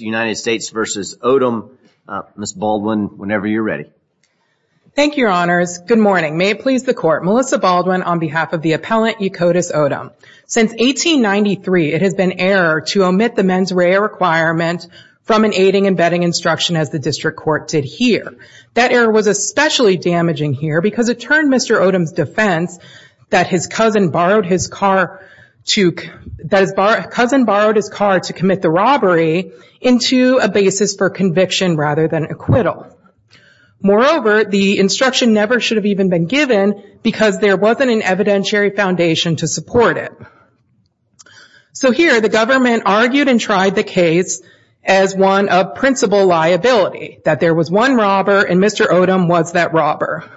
United States v. Odum. Ms. Baldwin, whenever you're ready. Thank you, your honors. Good morning. May it please the court. Melissa Baldwin on behalf of the appellant Yakotus Odum. Since 1893, it has been error to omit the mens rea requirement from an aiding and bedding instruction as the district court did here. That error was especially damaging here because it turned Mr. Odum's defense that his cousin borrowed his car to commit the robbery into a basis for conviction rather than acquittal. Moreover, the instruction never should have even been given because there wasn't an evidentiary foundation to support it. So here, the government argued and tried the case as one of principal liability. That there was one robber and Mr. Odum was that robber.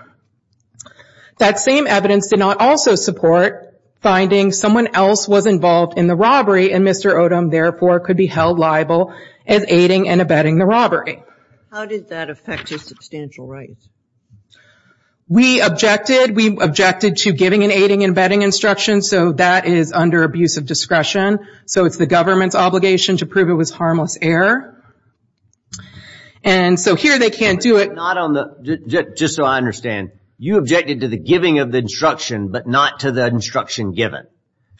That same evidence did not also support finding someone else was involved in the robbery and Mr. Odum, therefore, could be held liable as aiding and abetting the robbery. How did that affect your substantial rights? We objected. We objected to giving an aiding and abetting instruction, so that is under abuse of discretion. So it's the government's obligation to prove it was harmless error. And so here they can't do it. Just so I understand, you objected to the giving of the instruction, but not to the instruction given.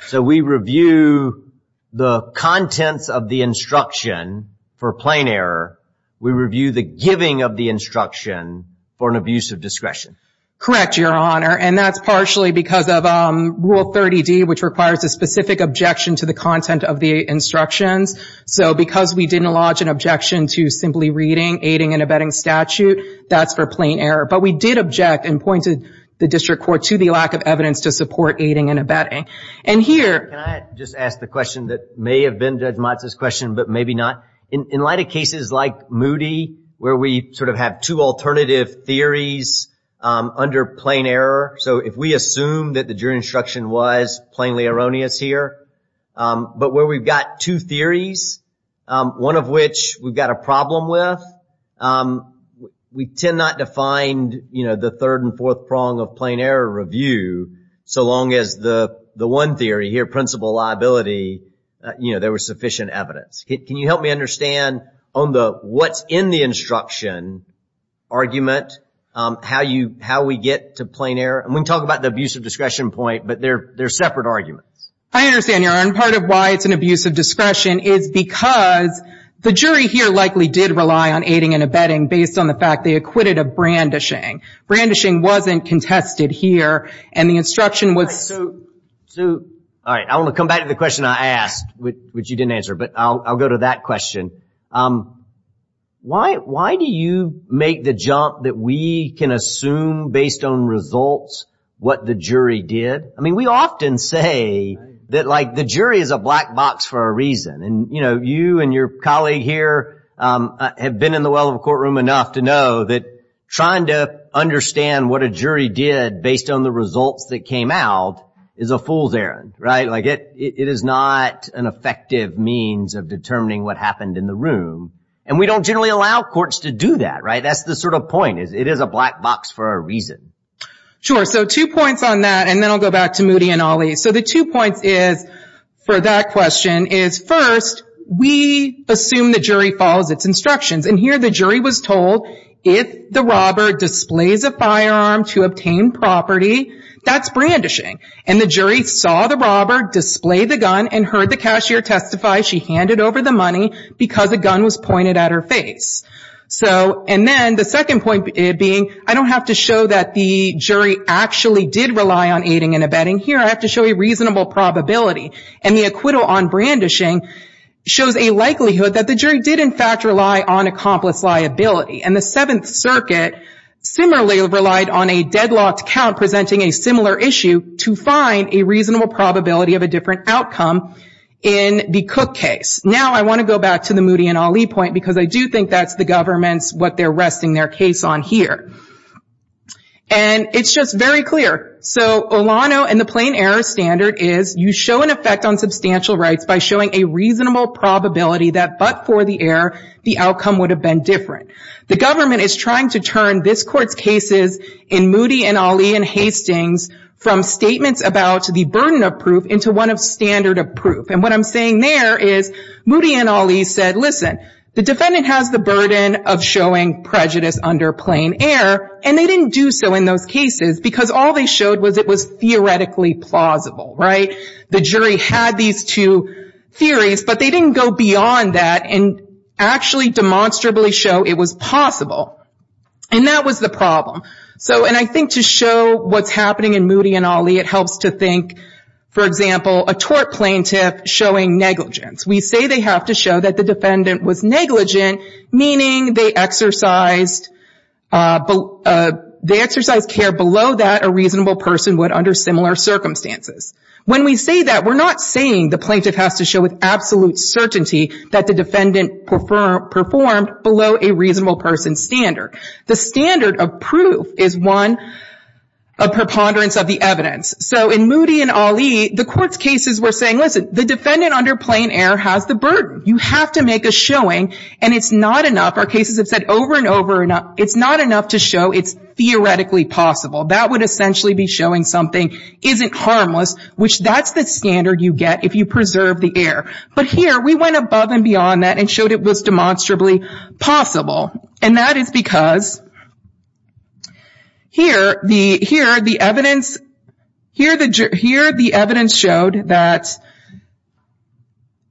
So we review the contents of the instruction for plain error. We review the giving of the instruction for an abuse of discretion. Correct, Your Honor. And that's partially because of Rule 30D, which requires a specific objection to the content of the instructions. So because we didn't lodge an objection to simply reading aiding and abetting statute, that's for plain error. But we did object and pointed the district court to the lack of evidence to support aiding and abetting. Can I just ask the question that may have been Judge Motz's question, but maybe not? In light of cases like Moody, where we sort of have two alternative theories under plain error, so if we assume that the jury instruction was plainly erroneous here, but where we've got two theories, one of which we've got a problem with, we tend not to find, you know, the third and fourth prong of plain error review. So long as the one theory here, principal liability, you know, there was sufficient evidence. Can you help me understand on the what's in the instruction argument, how we get to plain error? And we can talk about the abuse of discretion point, but they're separate arguments. I understand, Your Honor, and part of why it's an abuse of discretion is because the jury here likely did rely on aiding and abetting based on the fact they acquitted of brandishing. Brandishing wasn't contested here, and the instruction was... All right, I want to come back to the question I asked, which you didn't answer, but I'll go to that question. Why do you make the jump that we can assume based on results what the jury did? I mean, we often say that, like, the jury is a black box for a reason. And, you know, you and your colleague here have been in the well of a courtroom enough to know that trying to understand what a jury did based on the results that came out is a fool's errand, right? Like, it is not an effective means of determining what happened in the room. And we don't generally allow courts to do that, right? That's the sort of point. It is a black box for a reason. Sure. So two points on that, and then I'll go back to Moody and Ali. So the two points is, for that question, is first, we assume the jury follows its instructions. And here the jury was told, if the robber displays a firearm to obtain property, that's brandishing. And the jury saw the robber display the gun and heard the cashier testify she handed over the money because a gun was pointed at her face. And then the second point being, I don't have to show that the jury actually did rely on aiding and abetting. Here I have to show a reasonable probability. And the acquittal on brandishing shows a likelihood that the jury did in fact rely on accomplice liability. And the Seventh Circuit similarly relied on a deadlocked count presenting a similar issue to find a reasonable probability of a different outcome in the Cook case. Now I want to go back to the Moody and Ali point because I do think that's the government's, what they're resting their case on here. And it's just very clear. So Olano and the plain error standard is you show an effect on substantial rights by showing a reasonable probability that but for the error, the outcome would have been different. The government is trying to turn this Court's cases in Moody and Ali and Hastings from statements about the burden of proof into one of standard of proof. And what I'm saying there is Moody and Ali said, listen, the defendant has the burden of showing prejudice under plain error, and they didn't do so in those cases because all they showed was it was theoretically plausible. The jury had these two theories, but they didn't go beyond that and actually demonstrably show it was possible. And that was the problem. And I think to show what's happening in Moody and Ali, it helps to think, for example, a tort plaintiff showing negligence. We say they have to show that the defendant was negligent, meaning they exercised care below that a reasonable person would under similar circumstances. When we say that, we're not saying the plaintiff has to show with absolute certainty that the defendant performed below a reasonable person's standard. The standard of proof is one of preponderance of the evidence. So in Moody and Ali, the court's cases were saying, listen, the defendant under plain error has the burden. You have to make a showing, and it's not enough. Our cases have said over and over, it's not enough to show it's theoretically possible. That would essentially be showing something isn't harmless, which that's the standard you get if you preserve the error. But here, we went above and beyond that and showed it was demonstrably possible. And that is because here the evidence showed that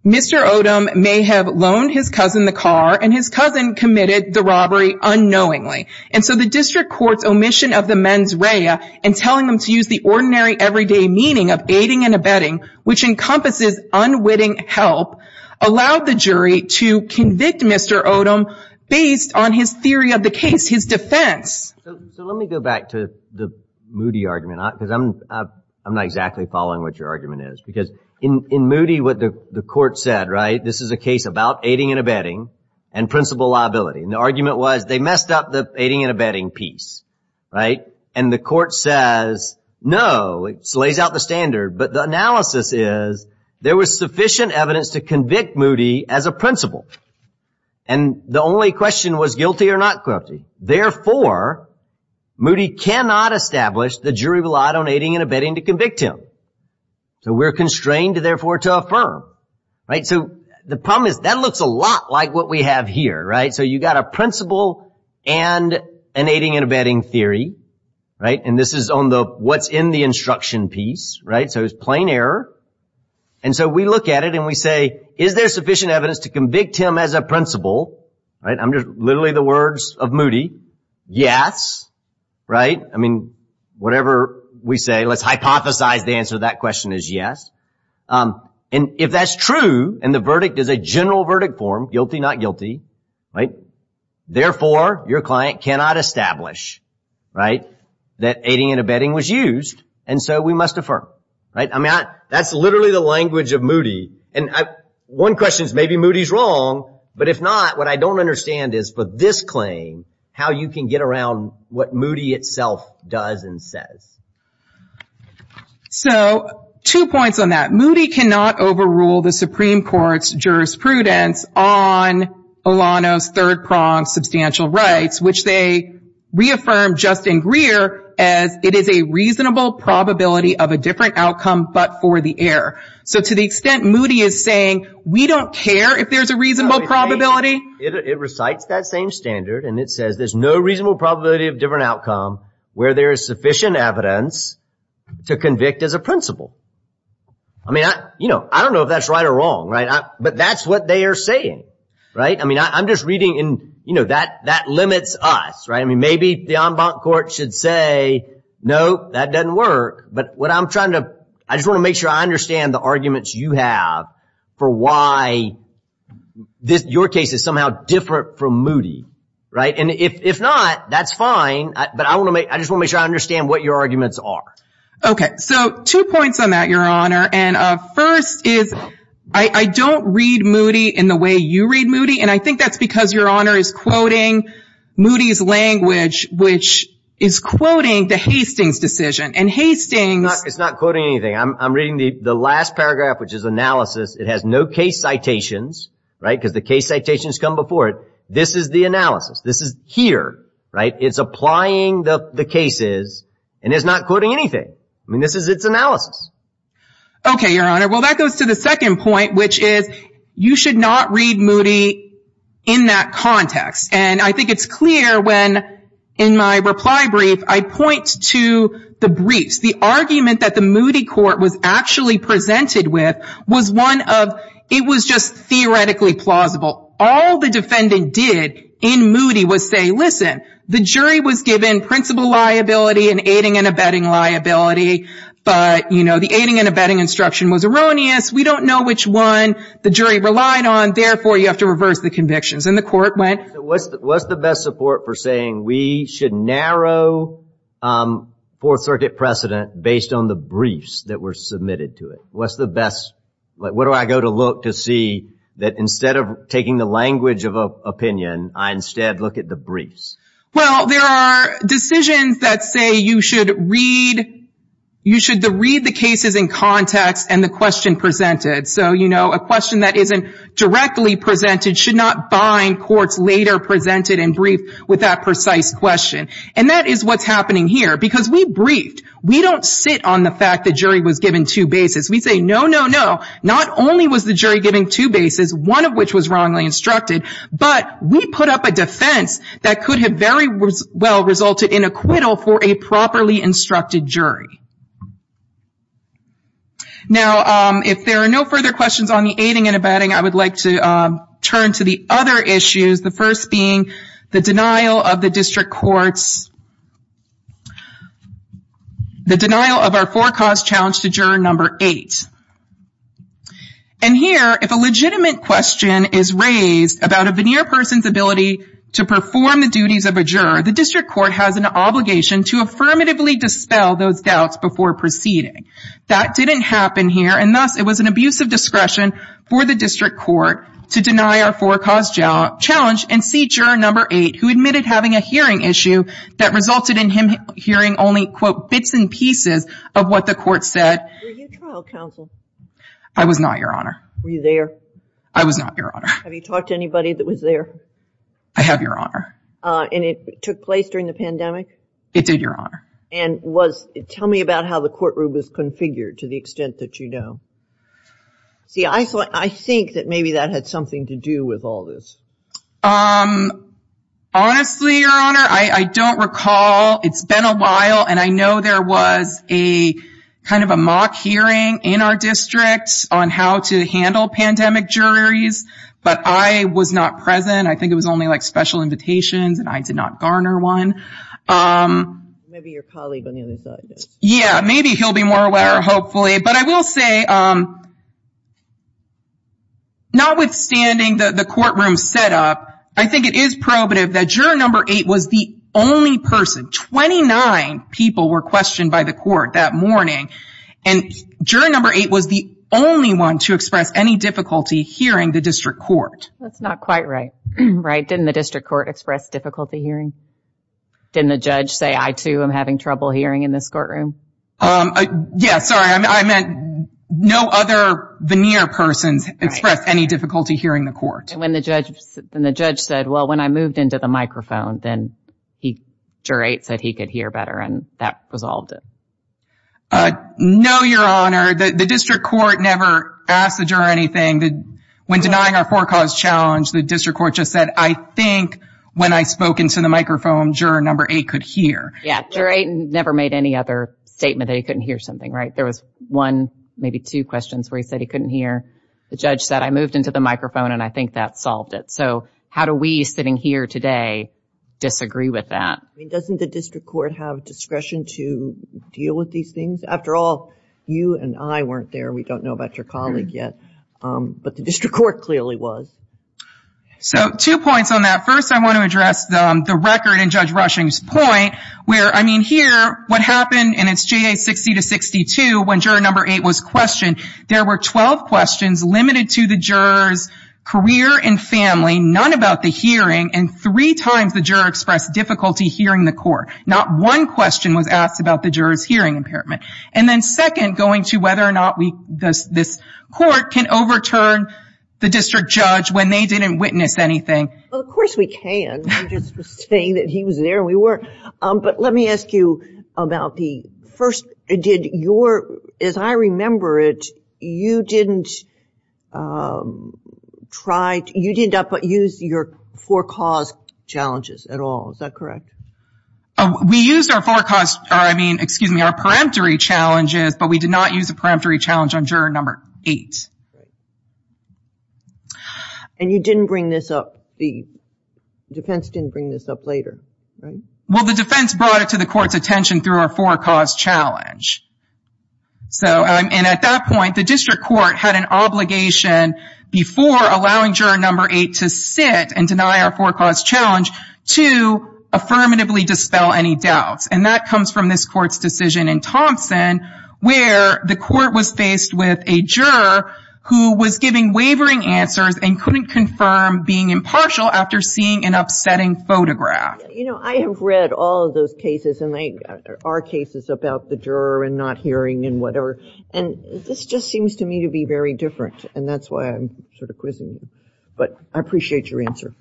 Mr. Odom may have loaned his cousin the car, and his cousin committed the robbery unknowingly. And so the district court's omission of the mens rea and telling them to use the ordinary, everyday meaning of aiding and abetting, which encompasses unwitting help, allowed the jury to convict Mr. Odom based on his theory of the case, his defense. So let me go back to the Moody argument, because I'm not exactly following what your argument is. Because in Moody, what the court said, right, this is a case about aiding and abetting and principal liability. And the argument was they messed up the aiding and abetting piece, right? And the court says, no, it slays out the standard. But the analysis is there was sufficient evidence to convict Moody as a principal. And the only question was guilty or not guilty. Therefore, Moody cannot establish the jury relied on aiding and abetting to convict him. So we're constrained, therefore, to affirm, right? So the problem is that looks a lot like what we have here, right? So you've got a principal and an aiding and abetting theory, right? And this is on the what's in the instruction piece, right? So it's plain error. And so we look at it and we say, is there sufficient evidence to convict him as a principal? Right. I'm just literally the words of Moody. Yes. Right. I mean, whatever we say, let's hypothesize the answer to that question is yes. And if that's true and the verdict is a general verdict form, guilty, not guilty. Right. Therefore, your client cannot establish, right, that aiding and abetting was used. And so we must affirm. Right. I mean, that's literally the language of Moody. And one question is maybe Moody's wrong. But if not, what I don't understand is for this claim, how you can get around what Moody itself does and says. So two points on that. Moody cannot overrule the Supreme Court's jurisprudence on Olano's third prong, substantial rights, which they reaffirm Justin Greer as it is a reasonable probability of a different outcome, but for the error. So to the extent Moody is saying we don't care if there's a reasonable probability. It recites that same standard and it says there's no reasonable probability of different outcome where there is sufficient evidence to convict as a principle. I mean, you know, I don't know if that's right or wrong. Right. But that's what they are saying. Right. I mean, I'm just reading in, you know, that that limits us. Right. I mean, maybe the en banc court should say, no, that doesn't work. But what I'm trying to I just want to make sure I understand the arguments you have for why this your case is somehow different from Moody. Right. And if not, that's fine. But I want to make I just want to understand what your arguments are. OK. So two points on that, Your Honor. And first is I don't read Moody in the way you read Moody. And I think that's because Your Honor is quoting Moody's language, which is quoting the Hastings decision and Hastings. It's not quoting anything. I'm reading the last paragraph, which is analysis. It has no case citations. Right. Because the case citations come before it. This is the analysis. This is here. Right. It's applying the cases and it's not quoting anything. I mean, this is its analysis. OK, Your Honor. Well, that goes to the second point, which is you should not read Moody in that context. And I think it's clear when in my reply brief, I point to the briefs. The argument that the Moody court was actually presented with was one of it was just theoretically plausible. All the defendant did in Moody was say, listen, the jury was given principal liability and aiding and abetting liability. But, you know, the aiding and abetting instruction was erroneous. We don't know which one the jury relied on. Therefore, you have to reverse the convictions. And the court went. What's the best support for saying we should narrow Fourth Circuit precedent based on the briefs that were submitted to it? What's the best? What do I go to look to see that instead of taking the language of opinion, I instead look at the briefs? Well, there are decisions that say you should read. You should read the cases in context and the question presented. So, you know, a question that isn't directly presented should not bind courts later presented in brief with that precise question. And that is what's happening here because we briefed. We don't sit on the fact the jury was given two bases. We say, no, no, no. Not only was the jury giving two bases, one of which was wrongly instructed, but we put up a defense that could have very well resulted in acquittal for a properly instructed jury. Now, if there are no further questions on the aiding and abetting, I would like to turn to the other issues, the first being the denial of the district courts, the denial of our forecast challenge to juror number eight. And here, if a legitimate question is raised about a veneer person's ability to perform the duties of a juror, the district court has an obligation to affirmatively dispel those doubts before proceeding. That didn't happen here. And thus, it was an abuse of discretion for the district court to deny our forecast challenge and see juror number eight, who admitted having a hearing issue that resulted in him hearing only, quote, bits and pieces of what the court said. Were you trial counsel? I was not, Your Honor. Were you there? I was not, Your Honor. Have you talked to anybody that was there? I have, Your Honor. And it took place during the pandemic? It did, Your Honor. And tell me about how the courtroom was configured to the extent that you know. See, I think that maybe that had something to do with all this. Honestly, Your Honor, I don't recall. It's been a while, and I know there was a kind of a mock hearing in our district on how to handle pandemic juries, but I was not present. I think it was only like special invitations, and I did not garner one. Maybe your colleague on the other side does. Yeah, maybe he'll be more aware, hopefully. But I will say, notwithstanding the courtroom setup, I think it is probative that juror number eight was the only person. Twenty-nine people were questioned by the court that morning, and juror number eight was the only one to express any difficulty hearing the district court. That's not quite right, right? Didn't the district court express difficulty hearing? Didn't the judge say, I, too, am having trouble hearing in this courtroom? Yeah, sorry. I meant no other veneer persons expressed any difficulty hearing the court. And the judge said, well, when I moved into the microphone, then juror eight said he could hear better, and that resolved it. No, Your Honor. The district court never asked the juror anything. When denying our forecast challenge, the district court just said, I think when I spoke into the microphone, juror number eight could hear. Yeah, juror eight never made any other statement that he couldn't hear something, right? There was one, maybe two questions where he said he couldn't hear. The judge said, I moved into the microphone, and I think that solved it. So how do we, sitting here today, disagree with that? I mean, doesn't the district court have discretion to deal with these things? After all, you and I weren't there. We don't know about your colleague yet. But the district court clearly was. So two points on that. First, I want to address the record in Judge Rushing's point where, I mean, here, what happened, and it's JA 60-62, when juror number eight was questioned, there were 12 questions limited to the juror's career and family, none about the hearing, and three times the juror expressed difficulty hearing the court. Not one question was asked about the juror's hearing impairment. And then second, going to whether or not this court can overturn the district judge when they didn't witness anything. Well, of course we can. I'm just saying that he was there and we weren't. But let me ask you about the first, did your, as I remember it, you didn't try, you didn't use your forecaused challenges at all, is that correct? We used our forecaused, or I mean, excuse me, our peremptory challenges, but we did not use the peremptory challenge on juror number eight. And you didn't bring this up, the defense didn't bring this up later, right? Well, the defense brought it to the court's attention through our forecaused challenge. And at that point, the district court had an obligation before allowing juror number eight to sit and deny our forecaused challenge to affirmatively dispel any doubts. And that comes from this court's decision in Thompson where the court was faced with a juror who was giving wavering answers and couldn't confirm being impartial after seeing an upsetting photograph. You know, I have read all of those cases, and there are cases about the juror and not hearing and whatever, and this just seems to me to be very different, and that's why I'm sort of quizzing you. But I appreciate your answer.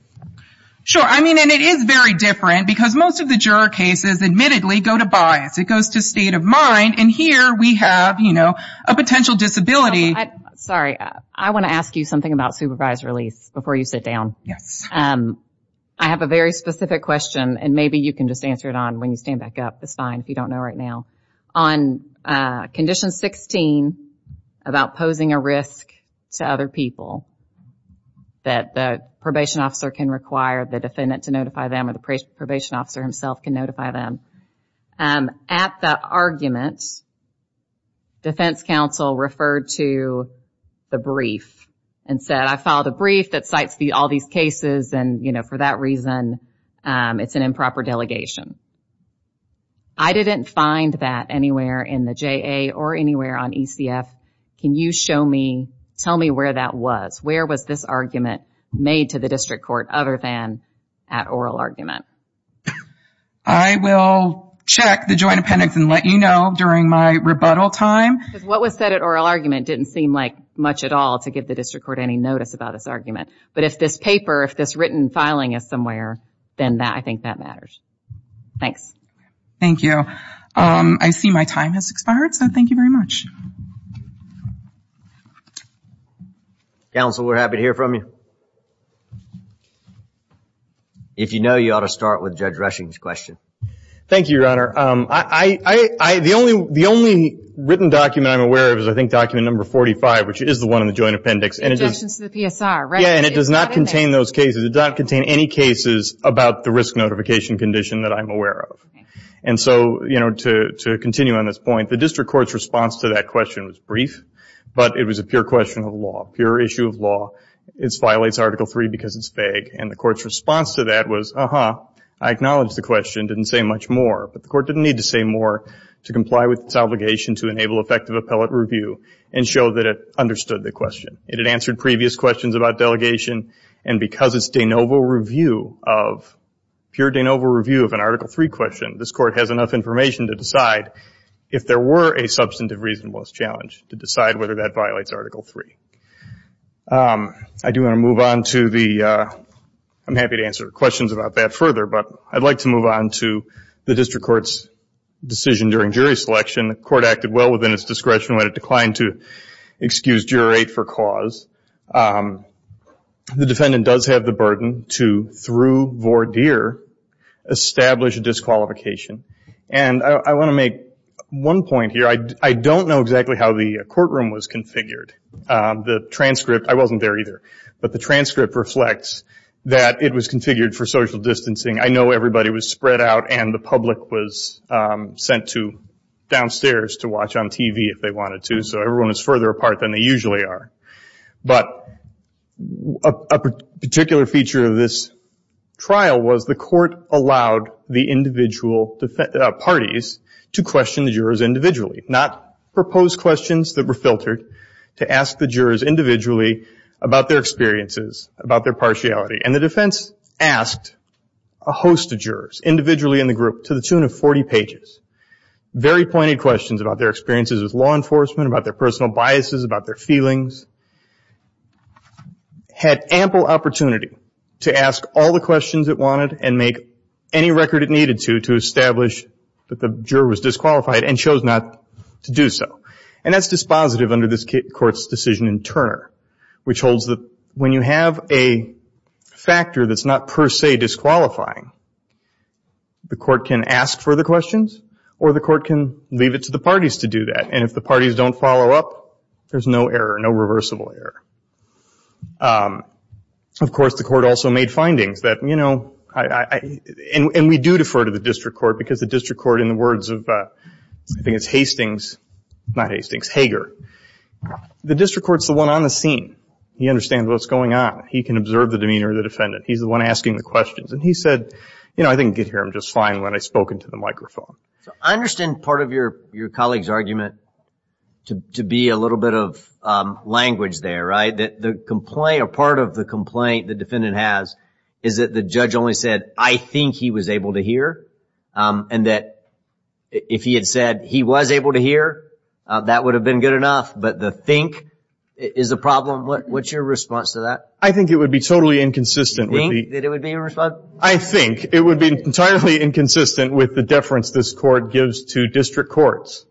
Sure. I mean, and it is very different because most of the juror cases admittedly go to bias. It goes to state of mind, and here we have, you know, a potential disability. Sorry, I want to ask you something about supervised release before you sit down. Yes. I have a very specific question, and maybe you can just answer it on when you stand back up. It's fine if you don't know right now. On condition 16 about posing a risk to other people that the probation officer can require the defendant to notify them or the probation officer himself can notify them, at the argument, defense counsel referred to the brief and said, I filed a brief that cites all these cases, and, you know, for that reason, it's an improper delegation. I didn't find that anywhere in the JA or anywhere on ECF. Can you show me, tell me where that was? Where was this argument made to the district court other than at oral argument? I will check the joint appendix and let you know during my rebuttal time. What was said at oral argument didn't seem like much at all to give the district court any notice about this argument, but if this paper, if this written filing is somewhere, then I think that matters. Thanks. Thank you. I see my time has expired, so thank you very much. Counsel, we're happy to hear from you. If you know, you ought to start with Judge Rushing's question. Thank you, Your Honor. The only written document I'm aware of is, I think, document number 45, which is the one in the joint appendix. Objections to the PSR, right? Yeah, and it does not contain those cases. It does not contain any cases about the risk notification condition that I'm aware of. And so, you know, to continue on this point, the district court's response to that question was brief, but it was a pure question of law, pure issue of law. It violates Article III because it's vague. And the court's response to that was, uh-huh, I acknowledge the question, didn't say much more, but the court didn't need to say more to comply with its obligation to enable effective appellate review and show that it understood the question. It had answered previous questions about delegation, and because it's de novo review of, pure de novo review of an Article III question, this court has enough information to decide if there were a substantive reasonableness challenge to decide whether that violates Article III. I do want to move on to the, I'm happy to answer questions about that further, but I'd like to move on to the district court's decision during jury selection. The court acted well within its discretion when it declined to excuse jury for cause. The defendant does have the burden to, through voir dire, establish a disqualification. And I want to make one point here. I don't know exactly how the courtroom was configured. The transcript, I wasn't there either, but the transcript reflects that it was configured for social distancing. I know everybody was spread out and the public was sent to downstairs to watch on TV if they wanted to, so everyone was further apart than they usually are. But a particular feature of this trial was the court allowed the individual parties to question the jurors individually, not propose questions that were filtered, to ask the jurors individually about their experiences, about their partiality. And the defense asked a host of jurors, individually in the group, to the tune of 40 pages, very pointed questions about their experiences with law enforcement, about their personal biases, about their feelings. Had ample opportunity to ask all the questions it wanted and make any record it needed to to establish that the juror was disqualified and chose not to do so. And that's dispositive under this court's decision in Turner, which holds that when you have a factor that's not per se disqualifying, the court can ask further questions or the court can leave it to the parties to do that. And if the parties don't follow up, there's no error, no reversible error. And we do defer to the district court because the district court, in the words of I think it's Hastings, not Hastings, Hager, the district court's the one on the scene. He understands what's going on. He can observe the demeanor of the defendant. He's the one asking the questions. And he said, you know, I didn't get here. I'm just fine when I spoke into the microphone. I understand part of your colleague's argument to be a little bit of language there, right, that the complaint or part of the complaint the defendant has is that the judge only said, I think he was able to hear. And that if he had said he was able to hear, that would have been good enough. But the think is a problem. What's your response to that? I think it would be totally inconsistent. You think that it would be inconsistent? I think it would be entirely inconsistent with the deference this court gives to district courts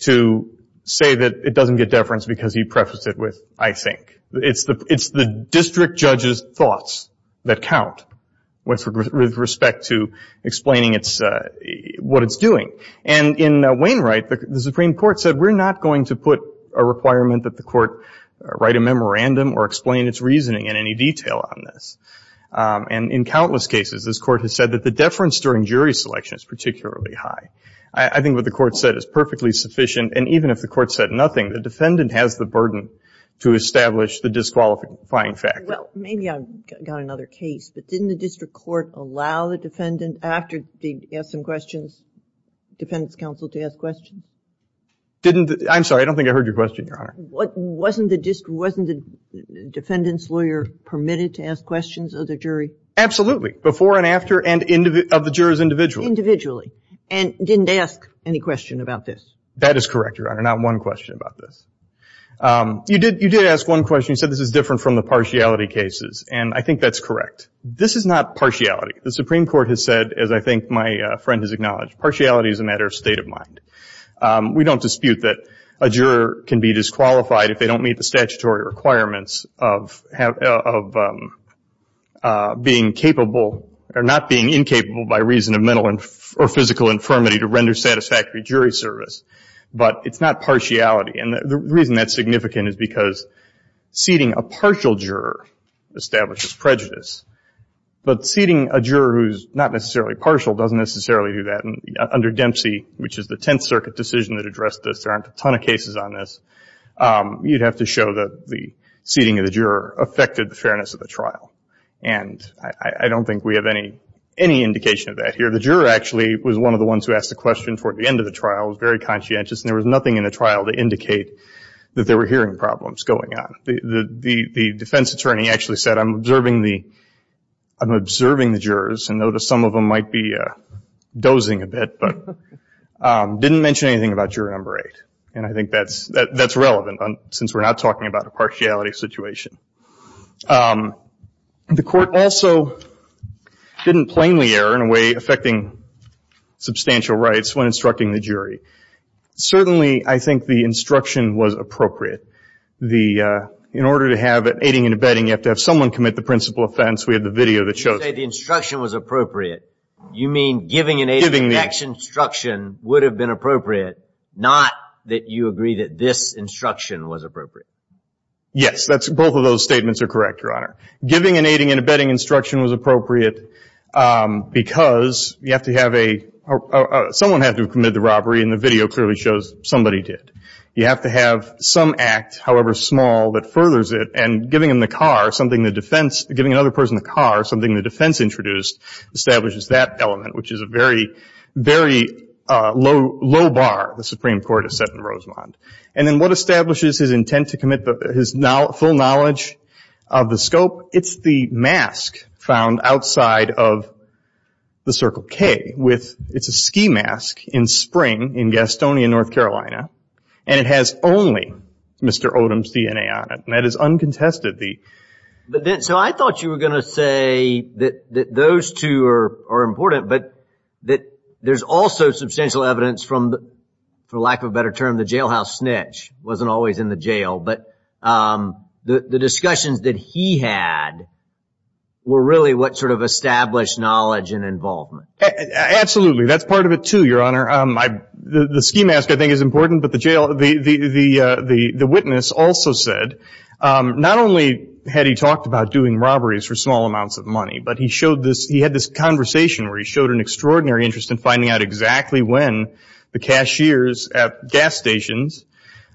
to say that it doesn't get deference because he prefaced it with I think. It's the district judge's thoughts that count with respect to explaining what it's doing. And in Wainwright, the Supreme Court said, we're not going to put a requirement that the court write a memorandum or explain its reasoning in any detail on this. And in countless cases, this court has said that the deference during jury selection is particularly high. I think what the court said is perfectly sufficient. And even if the court said nothing, the defendant has the burden to establish the disqualifying factor. Well, maybe I've got another case. But didn't the district court allow the defendant after they asked some questions, the defendant's counsel to ask questions? I'm sorry. I don't think I heard your question, Your Honor. Wasn't the defendant's lawyer permitted to ask questions of the jury? Absolutely. Before and after and of the jurors individually. Individually. And didn't ask any question about this. That is correct, Your Honor. Not one question about this. You did ask one question. You said this is different from the partiality cases. And I think that's correct. This is not partiality. The Supreme Court has said, as I think my friend has acknowledged, partiality is a matter of state of mind. We don't dispute that a juror can be disqualified if they don't meet the statutory requirements of being capable or not being incapable by reason of mental or physical infirmity to render satisfactory jury service. But it's not partiality. And the reason that's significant is because seating a partial juror establishes prejudice. But seating a juror who's not necessarily partial doesn't necessarily do that. Under Dempsey, which is the Tenth Circuit decision that addressed this, there aren't a ton of cases on this, you'd have to show that the seating of the juror affected the fairness of the trial. And I don't think we have any indication of that here. The juror actually was one of the ones who asked the question toward the end of the trial, was very conscientious, and there was nothing in the trial to indicate that there were hearing problems going on. The defense attorney actually said, I'm observing the jurors, and noticed some of them might be dozing a bit, but didn't mention anything about juror number eight. And I think that's relevant, since we're not talking about a partiality situation. The court also didn't plainly err in a way affecting substantial rights when instructing the jury. Certainly, I think the instruction was appropriate. In order to have aiding and abetting, you have to have someone commit the principal offense. We have the video that shows it. You say the instruction was appropriate. You mean giving an aiding and abetting instruction would have been appropriate, not that you agree that this instruction was appropriate? Yes. Both of those statements are correct, Your Honor. Giving an aiding and abetting instruction was appropriate because you have to have a – someone had to have committed the robbery, and the video clearly shows somebody did. You have to have some act, however small, that furthers it, and giving another person the car, something the defense introduced, establishes that element, which is a very, very low bar the Supreme Court has set in Rosemont. And then what establishes his intent to commit his full knowledge of the scope? It's the mask found outside of the Circle K. It's a ski mask in spring in Gastonia, North Carolina, and it has only Mr. Odom's DNA on it. And that is uncontested. So I thought you were going to say that those two are important, but that there's also substantial evidence from, for lack of a better term, the jailhouse snitch. He wasn't always in the jail. But the discussions that he had were really what sort of established knowledge and involvement. Absolutely. That's part of it, too, Your Honor. The ski mask, I think, is important, but the witness also said, not only had he talked about doing robberies for small amounts of money, but he showed this, he had this conversation where he showed an extraordinary interest in finding out exactly when the cashiers at gas stations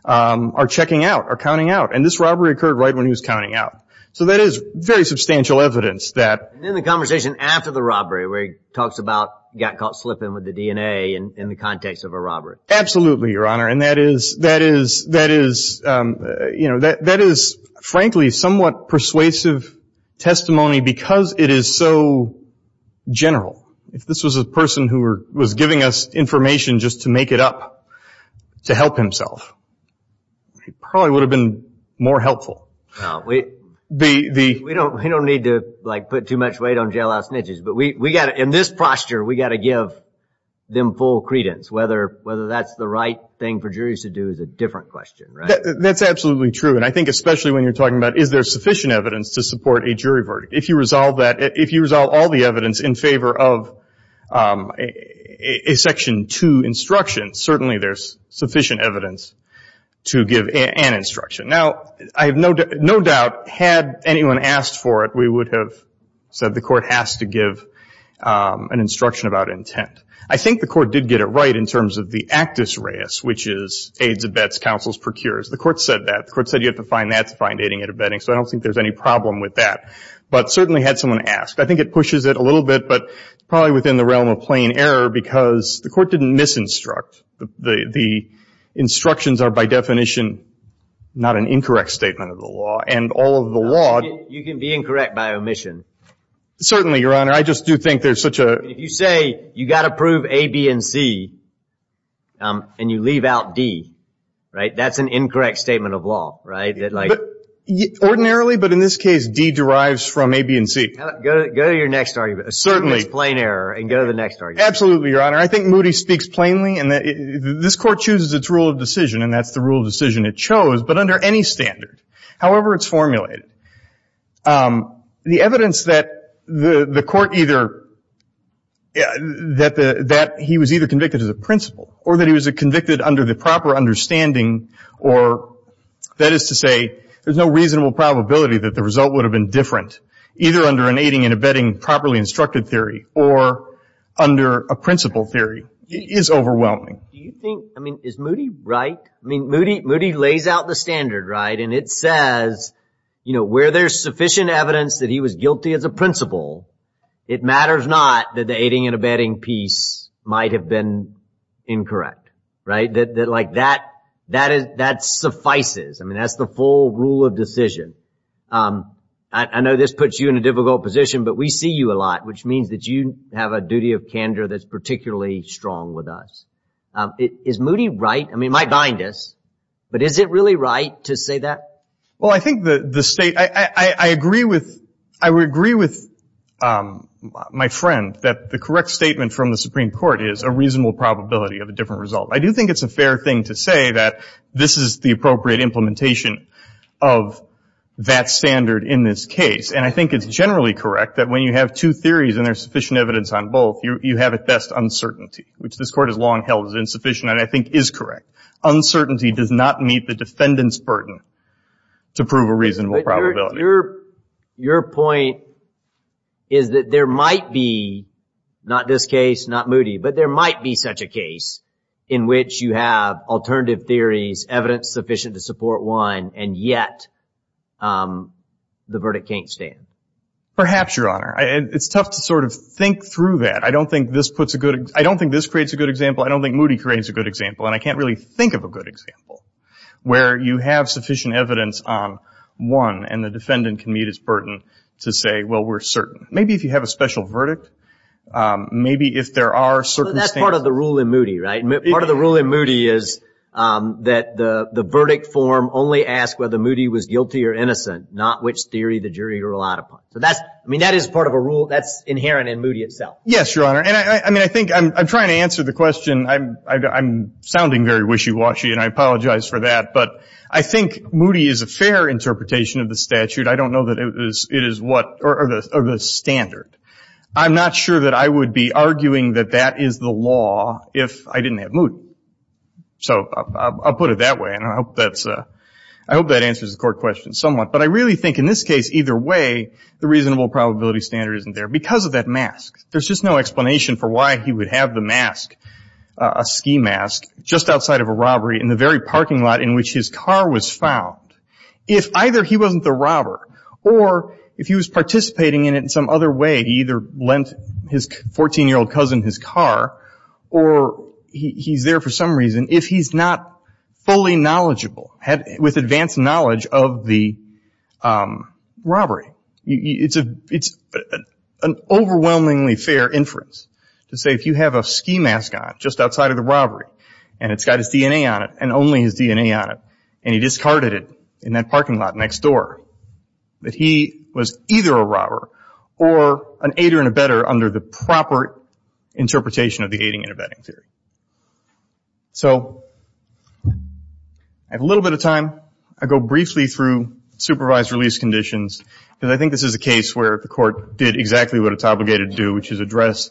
are checking out, are counting out. And this robbery occurred right when he was counting out. So that is very substantial evidence that. And then the conversation after the robbery where he talks about, got caught slipping with the DNA in the context of a robbery. Absolutely, Your Honor. And that is, frankly, somewhat persuasive testimony because it is so general. If this was a person who was giving us information just to make it up to help himself, he probably would have been more helpful. We don't need to put too much weight on jailhouse snitches, but in this posture we've got to give them full credence, whether that's the right thing for juries to do is a different question, right? That's absolutely true, and I think especially when you're talking about, is there sufficient evidence to support a jury verdict? If you resolve all the evidence in favor of a Section 2 instruction, certainly there's sufficient evidence to give an instruction. Now, I have no doubt, had anyone asked for it, we would have said the Court has to give an instruction about intent. I think the Court did get it right in terms of the actus reus, which is aids, abets, counsels, procures. The Court said that. The Court said you have to find that to find aiding and abetting, so I don't think there's any problem with that. But certainly had someone ask. I think it pushes it a little bit, but probably within the realm of plain error because the Court didn't misinstruct. The instructions are, by definition, not an incorrect statement of the law, and all of the law – You can be incorrect by omission. Certainly, Your Honor. I just do think there's such a – If you say you've got to prove A, B, and C, and you leave out D, right, that's an incorrect statement of law, right? Ordinarily, but in this case, D derives from A, B, and C. Go to your next argument. Certainly. Assert this plain error and go to the next argument. Absolutely, Your Honor. I think Moody speaks plainly in that this Court chooses its rule of decision, and that's the rule of decision it chose, but under any standard. However, it's formulated. The evidence that the Court either – that he was either convicted as a principal or that he was convicted under the proper understanding, or that is to say there's no reasonable probability that the result would have been different, either under an aiding and abetting properly instructed theory or under a principal theory, is overwhelming. Do you think – I mean, is Moody right? I mean, Moody lays out the standard, right, and it says, you know, where there's sufficient evidence that he was guilty as a principal, it matters not that the aiding and abetting piece might have been incorrect, right? Like, that suffices. I mean, that's the full rule of decision. I know this puts you in a difficult position, but we see you a lot, which means that you have a duty of candor that's particularly strong with us. Is Moody right? I mean, it might bind us, but is it really right to say that? Well, I think the state – I agree with – I agree with my friend that the correct statement from the Supreme Court is a reasonable probability of a different result. I do think it's a fair thing to say that this is the appropriate implementation of that standard in this case, and I think it's generally correct that when you have two theories and there's sufficient evidence on both, you have at best uncertainty, which this Court has long held as insufficient and I think is correct. Uncertainty does not meet the defendant's burden to prove a reasonable probability. Your point is that there might be – not this case, not Moody – but there might be such a case in which you have alternative theories, evidence sufficient to support one, and yet the verdict can't stand. Perhaps, Your Honor. It's tough to sort of think through that. I don't think this puts a good – I don't think this creates a good example. I don't think Moody creates a good example, and I can't really think of a good example where you have sufficient evidence on one and the defendant can meet his burden to say, well, we're certain. Maybe if you have a special verdict. Maybe if there are circumstances – That's part of the rule in Moody, right? Part of the rule in Moody is that the verdict form only asks whether Moody was guilty or innocent, not which theory the jury relied upon. So that's – I mean, that is part of a rule that's inherent in Moody itself. Yes, Your Honor. And I think – I'm trying to answer the question. I'm sounding very wishy-washy, and I apologize for that. But I think Moody is a fair interpretation of the statute. I don't know that it is what – or the standard. I'm not sure that I would be arguing that that is the law if I didn't have Moody. So I'll put it that way, and I hope that answers the court question somewhat. But I really think in this case either way the reasonable probability standard isn't there because of that mask. There's just no explanation for why he would have the mask, a ski mask, just outside of a robbery in the very parking lot in which his car was found. If either he wasn't the robber or if he was participating in it in some other way, he either lent his 14-year-old cousin his car or he's there for some reason. If he's not fully knowledgeable, with advanced knowledge of the robbery, it's an overwhelmingly fair inference to say if you have a ski mask on just outside of the robbery and it's got his DNA on it and only his DNA on it and he discarded it in that parking lot next door, that he was either a robber or an aider and abetter under the proper interpretation of the aiding and abetting theory. So I have a little bit of time. I'll go briefly through supervised release conditions because I think this is a case where the court did exactly what it's obligated to do, which is address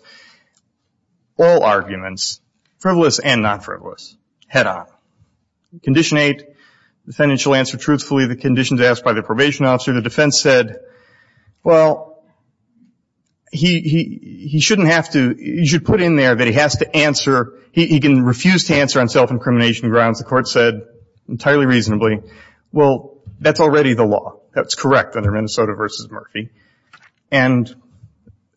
all arguments, frivolous and not frivolous, head on. Condition 8, defendant shall answer truthfully the conditions asked by the probation officer. The defense said, well, he shouldn't have to, he should put in there that he has to answer, he can refuse to answer on self-incrimination grounds. The court said entirely reasonably, well, that's already the law. That's correct under Minnesota v. Murphy. And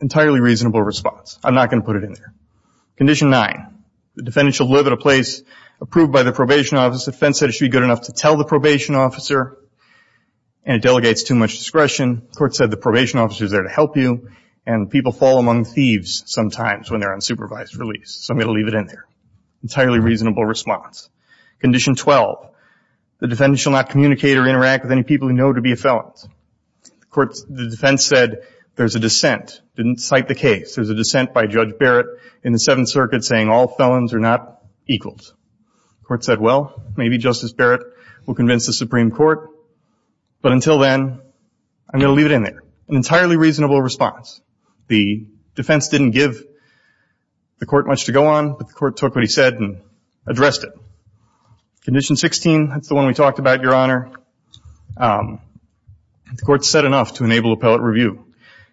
entirely reasonable response. I'm not going to put it in there. Condition 9, the defendant shall live at a place approved by the probation officer. The defense said it should be good enough to tell the probation officer and it delegates too much discretion. The court said the probation officer is there to help you and people fall among thieves sometimes when they're on supervised release. So I'm going to leave it in there. Entirely reasonable response. Condition 12, the defendant shall not communicate or interact with any people who know to be a felon. The defense said there's a dissent, didn't cite the case. There's a dissent by Judge Barrett in the Seventh Circuit saying all felons are not equals. The court said, well, maybe Justice Barrett will convince the Supreme Court, but until then I'm going to leave it in there. An entirely reasonable response. The defense didn't give the court much to go on, but the court took what he said and addressed it. Condition 16, that's the one we talked about, Your Honor. The court said enough to enable appellate review.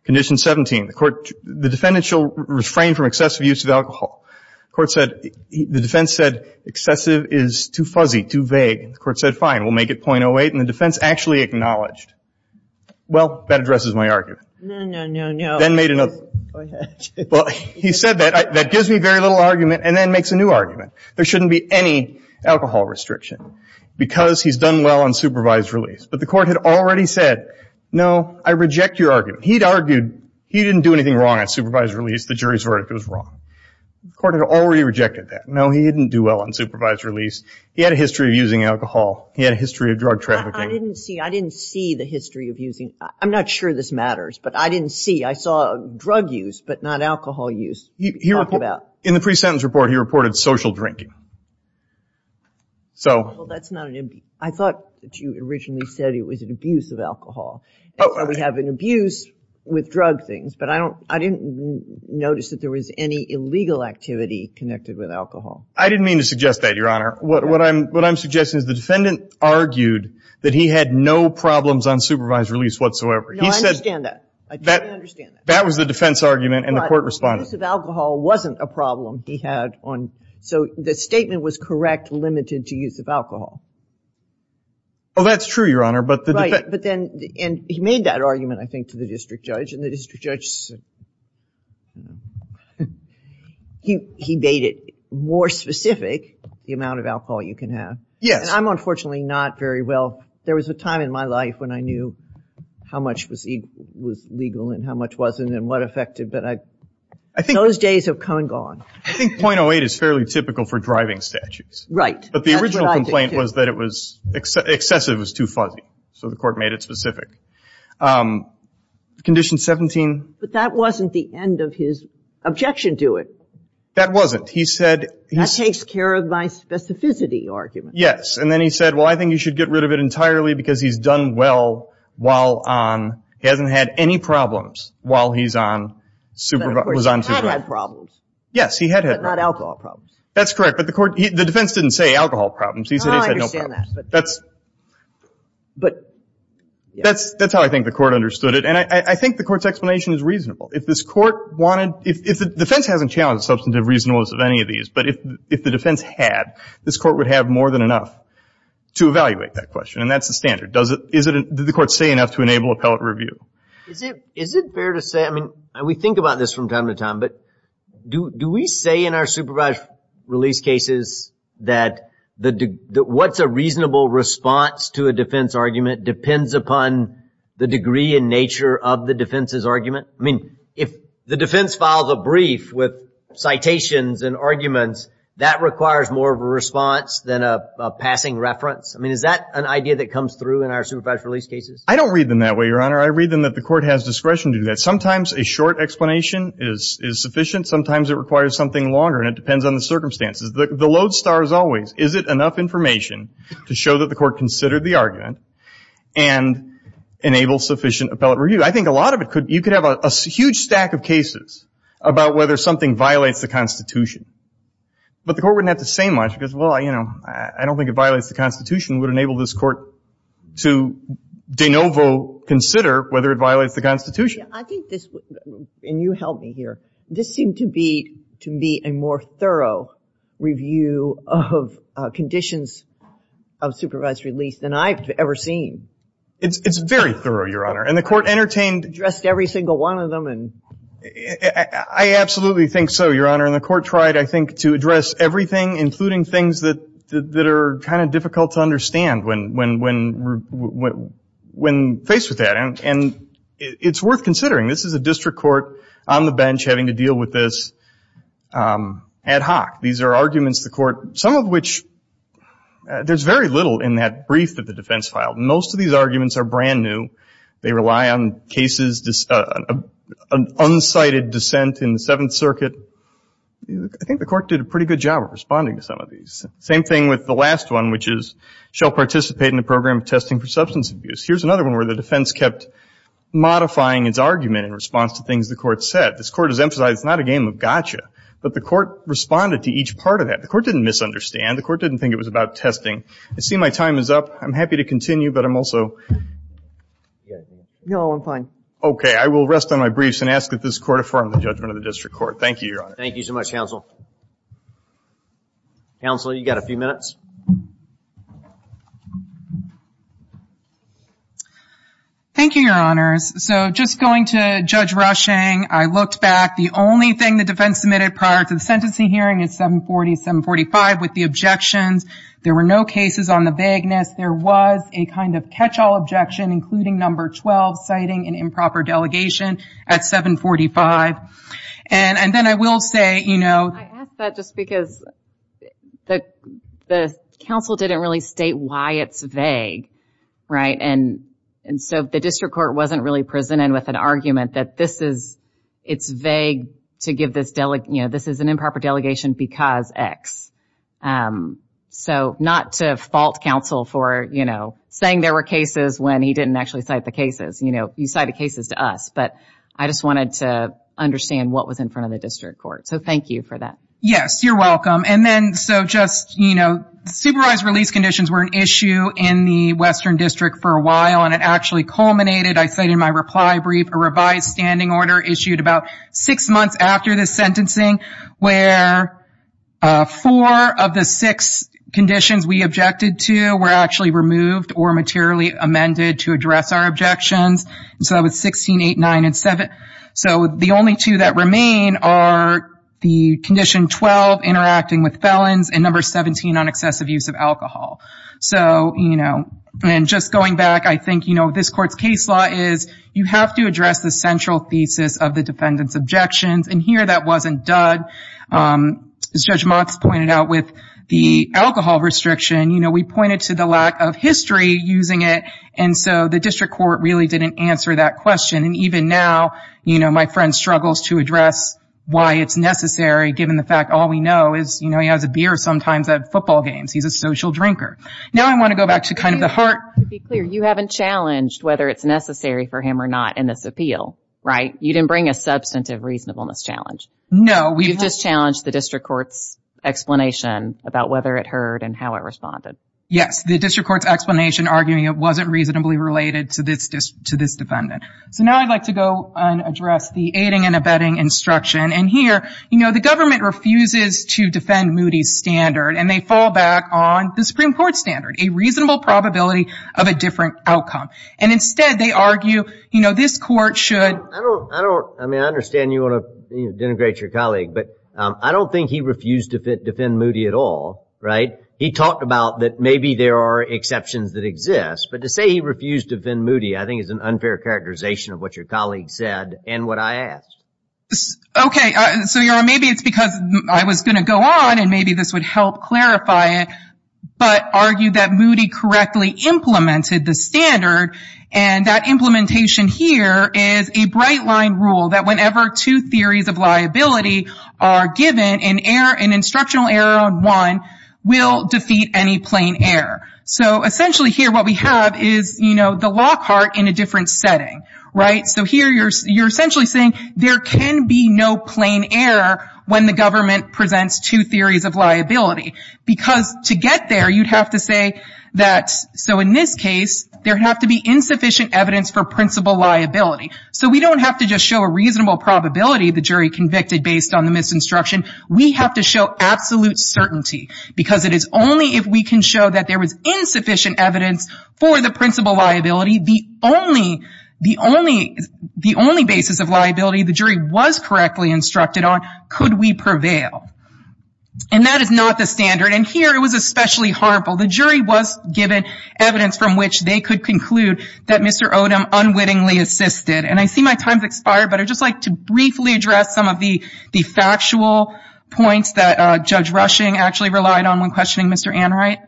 Condition 17, the defendant shall refrain from excessive use of alcohol. The defense said excessive is too fuzzy, too vague. The court said, fine, we'll make it .08, and the defense actually acknowledged. Well, that addresses my argument. No, no, no, no. Then made another. Go ahead. Well, he said that gives me very little argument and then makes a new argument. There shouldn't be any alcohol restriction because he's done well on supervised release. But the court had already said, no, I reject your argument. He'd argued he didn't do anything wrong on supervised release. The jury's verdict was wrong. The court had already rejected that. No, he didn't do well on supervised release. He had a history of using alcohol. He had a history of drug trafficking. I didn't see. I didn't see the history of using. I'm not sure this matters, but I didn't see. I saw drug use but not alcohol use. In the pre-sentence report, he reported social drinking. Well, that's not an abuse. I thought that you originally said it was an abuse of alcohol. We have an abuse with drug things, but I didn't notice that there was any illegal activity connected with alcohol. I didn't mean to suggest that, Your Honor. What I'm suggesting is the defendant argued that he had no problems on supervised release whatsoever. No, I understand that. I totally understand that. That was the defense argument and the court responded. But the use of alcohol wasn't a problem he had on. So the statement was correct, limited to use of alcohol. Oh, that's true, Your Honor. Right, but then he made that argument, I think, to the district judge, and the district judge, he made it more specific, the amount of alcohol you can have. Yes. And I'm unfortunately not very well. There was a time in my life when I knew how much was legal and how much wasn't and what affected, but those days have come and gone. I think .08 is fairly typical for driving statutes. Right. But the original complaint was that it was excessive, it was too fuzzy. So the court made it specific. Condition 17. But that wasn't the end of his objection to it. That wasn't. He said. That takes care of my specificity argument. Yes, and then he said, well, I think you should get rid of it entirely because he's done well while on, he hasn't had any problems while he's on supervised. He had had problems. Yes, he had. But not alcohol problems. That's correct. But the defense didn't say alcohol problems. No, I understand that. That's how I think the court understood it. And I think the court's explanation is reasonable. If this court wanted, if the defense hasn't challenged substantive reasonableness of any of these, but if the defense had, this court would have more than enough to evaluate that question, and that's the standard. Does the court say enough to enable appellate review? Is it fair to say, I mean, we think about this from time to time, but do we say in our supervised release cases that what's a reasonable response to a defense argument depends upon the degree and nature of the defense's argument? I mean, if the defense files a brief with citations and arguments, that requires more of a response than a passing reference. I mean, is that an idea that comes through in our supervised release cases? I don't read them that way, Your Honor. I read them that the court has discretion to do that. Sometimes a short explanation is sufficient. Sometimes it requires something longer, and it depends on the circumstances. The lodestar is always, is it enough information to show that the court considered the argument and enable sufficient appellate review? I think a lot of it could, you could have a huge stack of cases about whether something violates the Constitution, but the court wouldn't have to say much because, well, you know, I don't think it violates the Constitution. It would enable this court to de novo consider whether it violates the Constitution. I think this, and you help me here, this seemed to be, to me, a more thorough review of conditions of supervised release than I've ever seen. It's very thorough, Your Honor, and the court entertained. Addressed every single one of them. I absolutely think so, Your Honor, and the court tried, I think, to address everything, including things that are kind of difficult to understand when faced with that, and it's worth considering. This is a district court on the bench having to deal with this ad hoc. These are arguments the court, some of which, there's very little in that brief that the defense filed. Most of these arguments are brand new. They rely on cases, an unsighted dissent in the Seventh Circuit. I think the court did a pretty good job of responding to some of these. Same thing with the last one, which is, shall participate in the program of testing for substance abuse. Here's another one where the defense kept modifying its argument in response to things the court said. This court has emphasized it's not a game of gotcha, but the court responded to each part of that. The court didn't misunderstand. The court didn't think it was about testing. I see my time is up. I'm happy to continue, but I'm also. No, I'm fine. Okay. I will rest on my briefs and ask that this court affirm the judgment of the district court. Thank you, Your Honor. Thank you so much, Counsel. Counsel, you've got a few minutes. Thank you, Your Honors. So just going to Judge Rushing, I looked back. The only thing the defense submitted prior to the sentencing hearing is 740-745 with the objections. There were no cases on the vagueness. There was a kind of catch-all objection, including number 12, citing an improper delegation at 745. And then I will say, you know. I ask that just because the counsel didn't really state why it's vague, right? And so the district court wasn't really presented with an argument that this is, it's vague to give this, you know, this is an improper delegation because X. So not to fault counsel for, you know, saying there were cases when he didn't actually cite the cases. You know, you cited cases to us, but I just wanted to understand what was in front of the district court. So thank you for that. Yes, you're welcome. And then so just, you know, supervised release conditions were an issue in the Western District for a while, and it actually culminated, I said in my reply brief, a revised standing order issued about six months after this sentencing, where four of the six conditions we objected to were actually removed or materially amended to address our objections. So that was 16, 8, 9, and 7. So the only two that remain are the condition 12, interacting with felons, and number 17, on excessive use of alcohol. So, you know, and just going back, I think, you know, this court's case law is you have to address the central thesis of the defendant's objections, and here that wasn't done. As Judge Motz pointed out with the alcohol restriction, you know, we pointed to the lack of history using it, and so the district court really didn't answer that question. And even now, you know, my friend struggles to address why it's necessary, given the fact all we know is, you know, he has a beer sometimes at football games. He's a social drinker. Now I want to go back to kind of the heart. To be clear, you haven't challenged whether it's necessary for him or not in this appeal, right? You didn't bring a substantive reasonableness challenge. No. You've just challenged the district court's explanation about whether it heard and how it responded. Yes, the district court's explanation arguing it wasn't reasonably related to this defendant. So now I'd like to go and address the aiding and abetting instruction. And here, you know, the government refuses to defend Moody's standard, and they fall back on the Supreme Court standard, a reasonable probability of a different outcome. And instead they argue, you know, this court should. I don't, I don't, I mean, I understand you want to denigrate your colleague, but I don't think he refused to defend Moody at all, right? He talked about that maybe there are exceptions that exist, but to say he refused to defend Moody I think is an unfair characterization of what your colleague said and what I asked. Okay, so maybe it's because I was going to go on and maybe this would help clarify it, but argue that Moody correctly implemented the standard, and that implementation here is a bright line rule that whenever two theories of liability are given, an instructional error on one will defeat any plain error. So essentially here what we have is, you know, the Lockhart in a different setting, right? So here you're essentially saying there can be no plain error when the government presents two theories of liability, because to get there you'd have to say that, so in this case, there have to be insufficient evidence for principal liability. So we don't have to just show a reasonable probability the jury convicted based on the misinstruction. We have to show absolute certainty, because it is only if we can show that there was insufficient evidence for the principal liability, the only basis of liability the jury was correctly instructed on, could we prevail. And that is not the standard, and here it was especially harmful. The jury was given evidence from which they could conclude that Mr. Odom unwittingly assisted. And I see my time's expired, but I'd just like to briefly address some of the factual points that Judge Rushing actually relied on when questioning Mr. Anwright.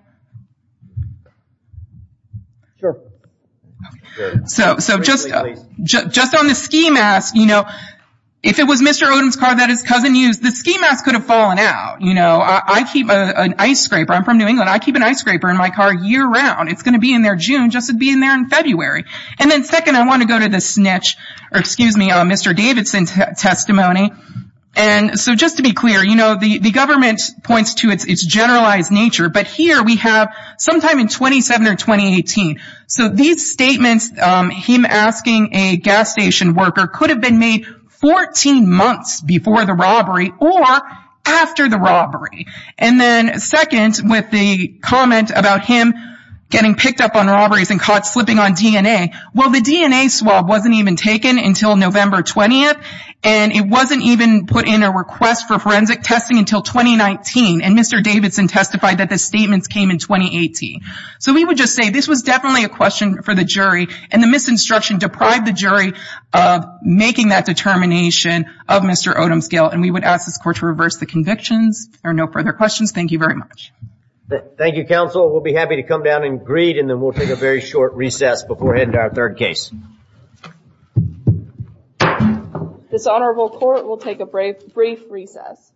So just on the ski mask, you know, if it was Mr. Odom's car that his cousin used, the ski mask could have fallen out. You know, I keep an ice scraper. I'm from New England. I keep an ice scraper in my car year-round. It's going to be in there June, just as it would be in there in February. And then second, I want to go to the snitch, or excuse me, Mr. Davidson's testimony. And so just to be clear, you know, the government points to its generalized nature, but here we have sometime in 2007 or 2018. So these statements, him asking a gas station worker, could have been made 14 months before the robbery or after the robbery. And then second, with the comment about him getting picked up on robberies and caught slipping on DNA, well, the DNA swab wasn't even taken until November 20th, and it wasn't even put in a request for forensic testing until 2019. And Mr. Davidson testified that the statements came in 2018. So we would just say this was definitely a question for the jury, and the misinstruction deprived the jury of making that determination of Mr. Odom's guilt. And we would ask this court to reverse the convictions. There are no further questions. Thank you very much. Thank you, counsel. We'll be happy to come down and greet, and then we'll take a very short recess before heading to our third case. This honorable court will take a brief recess.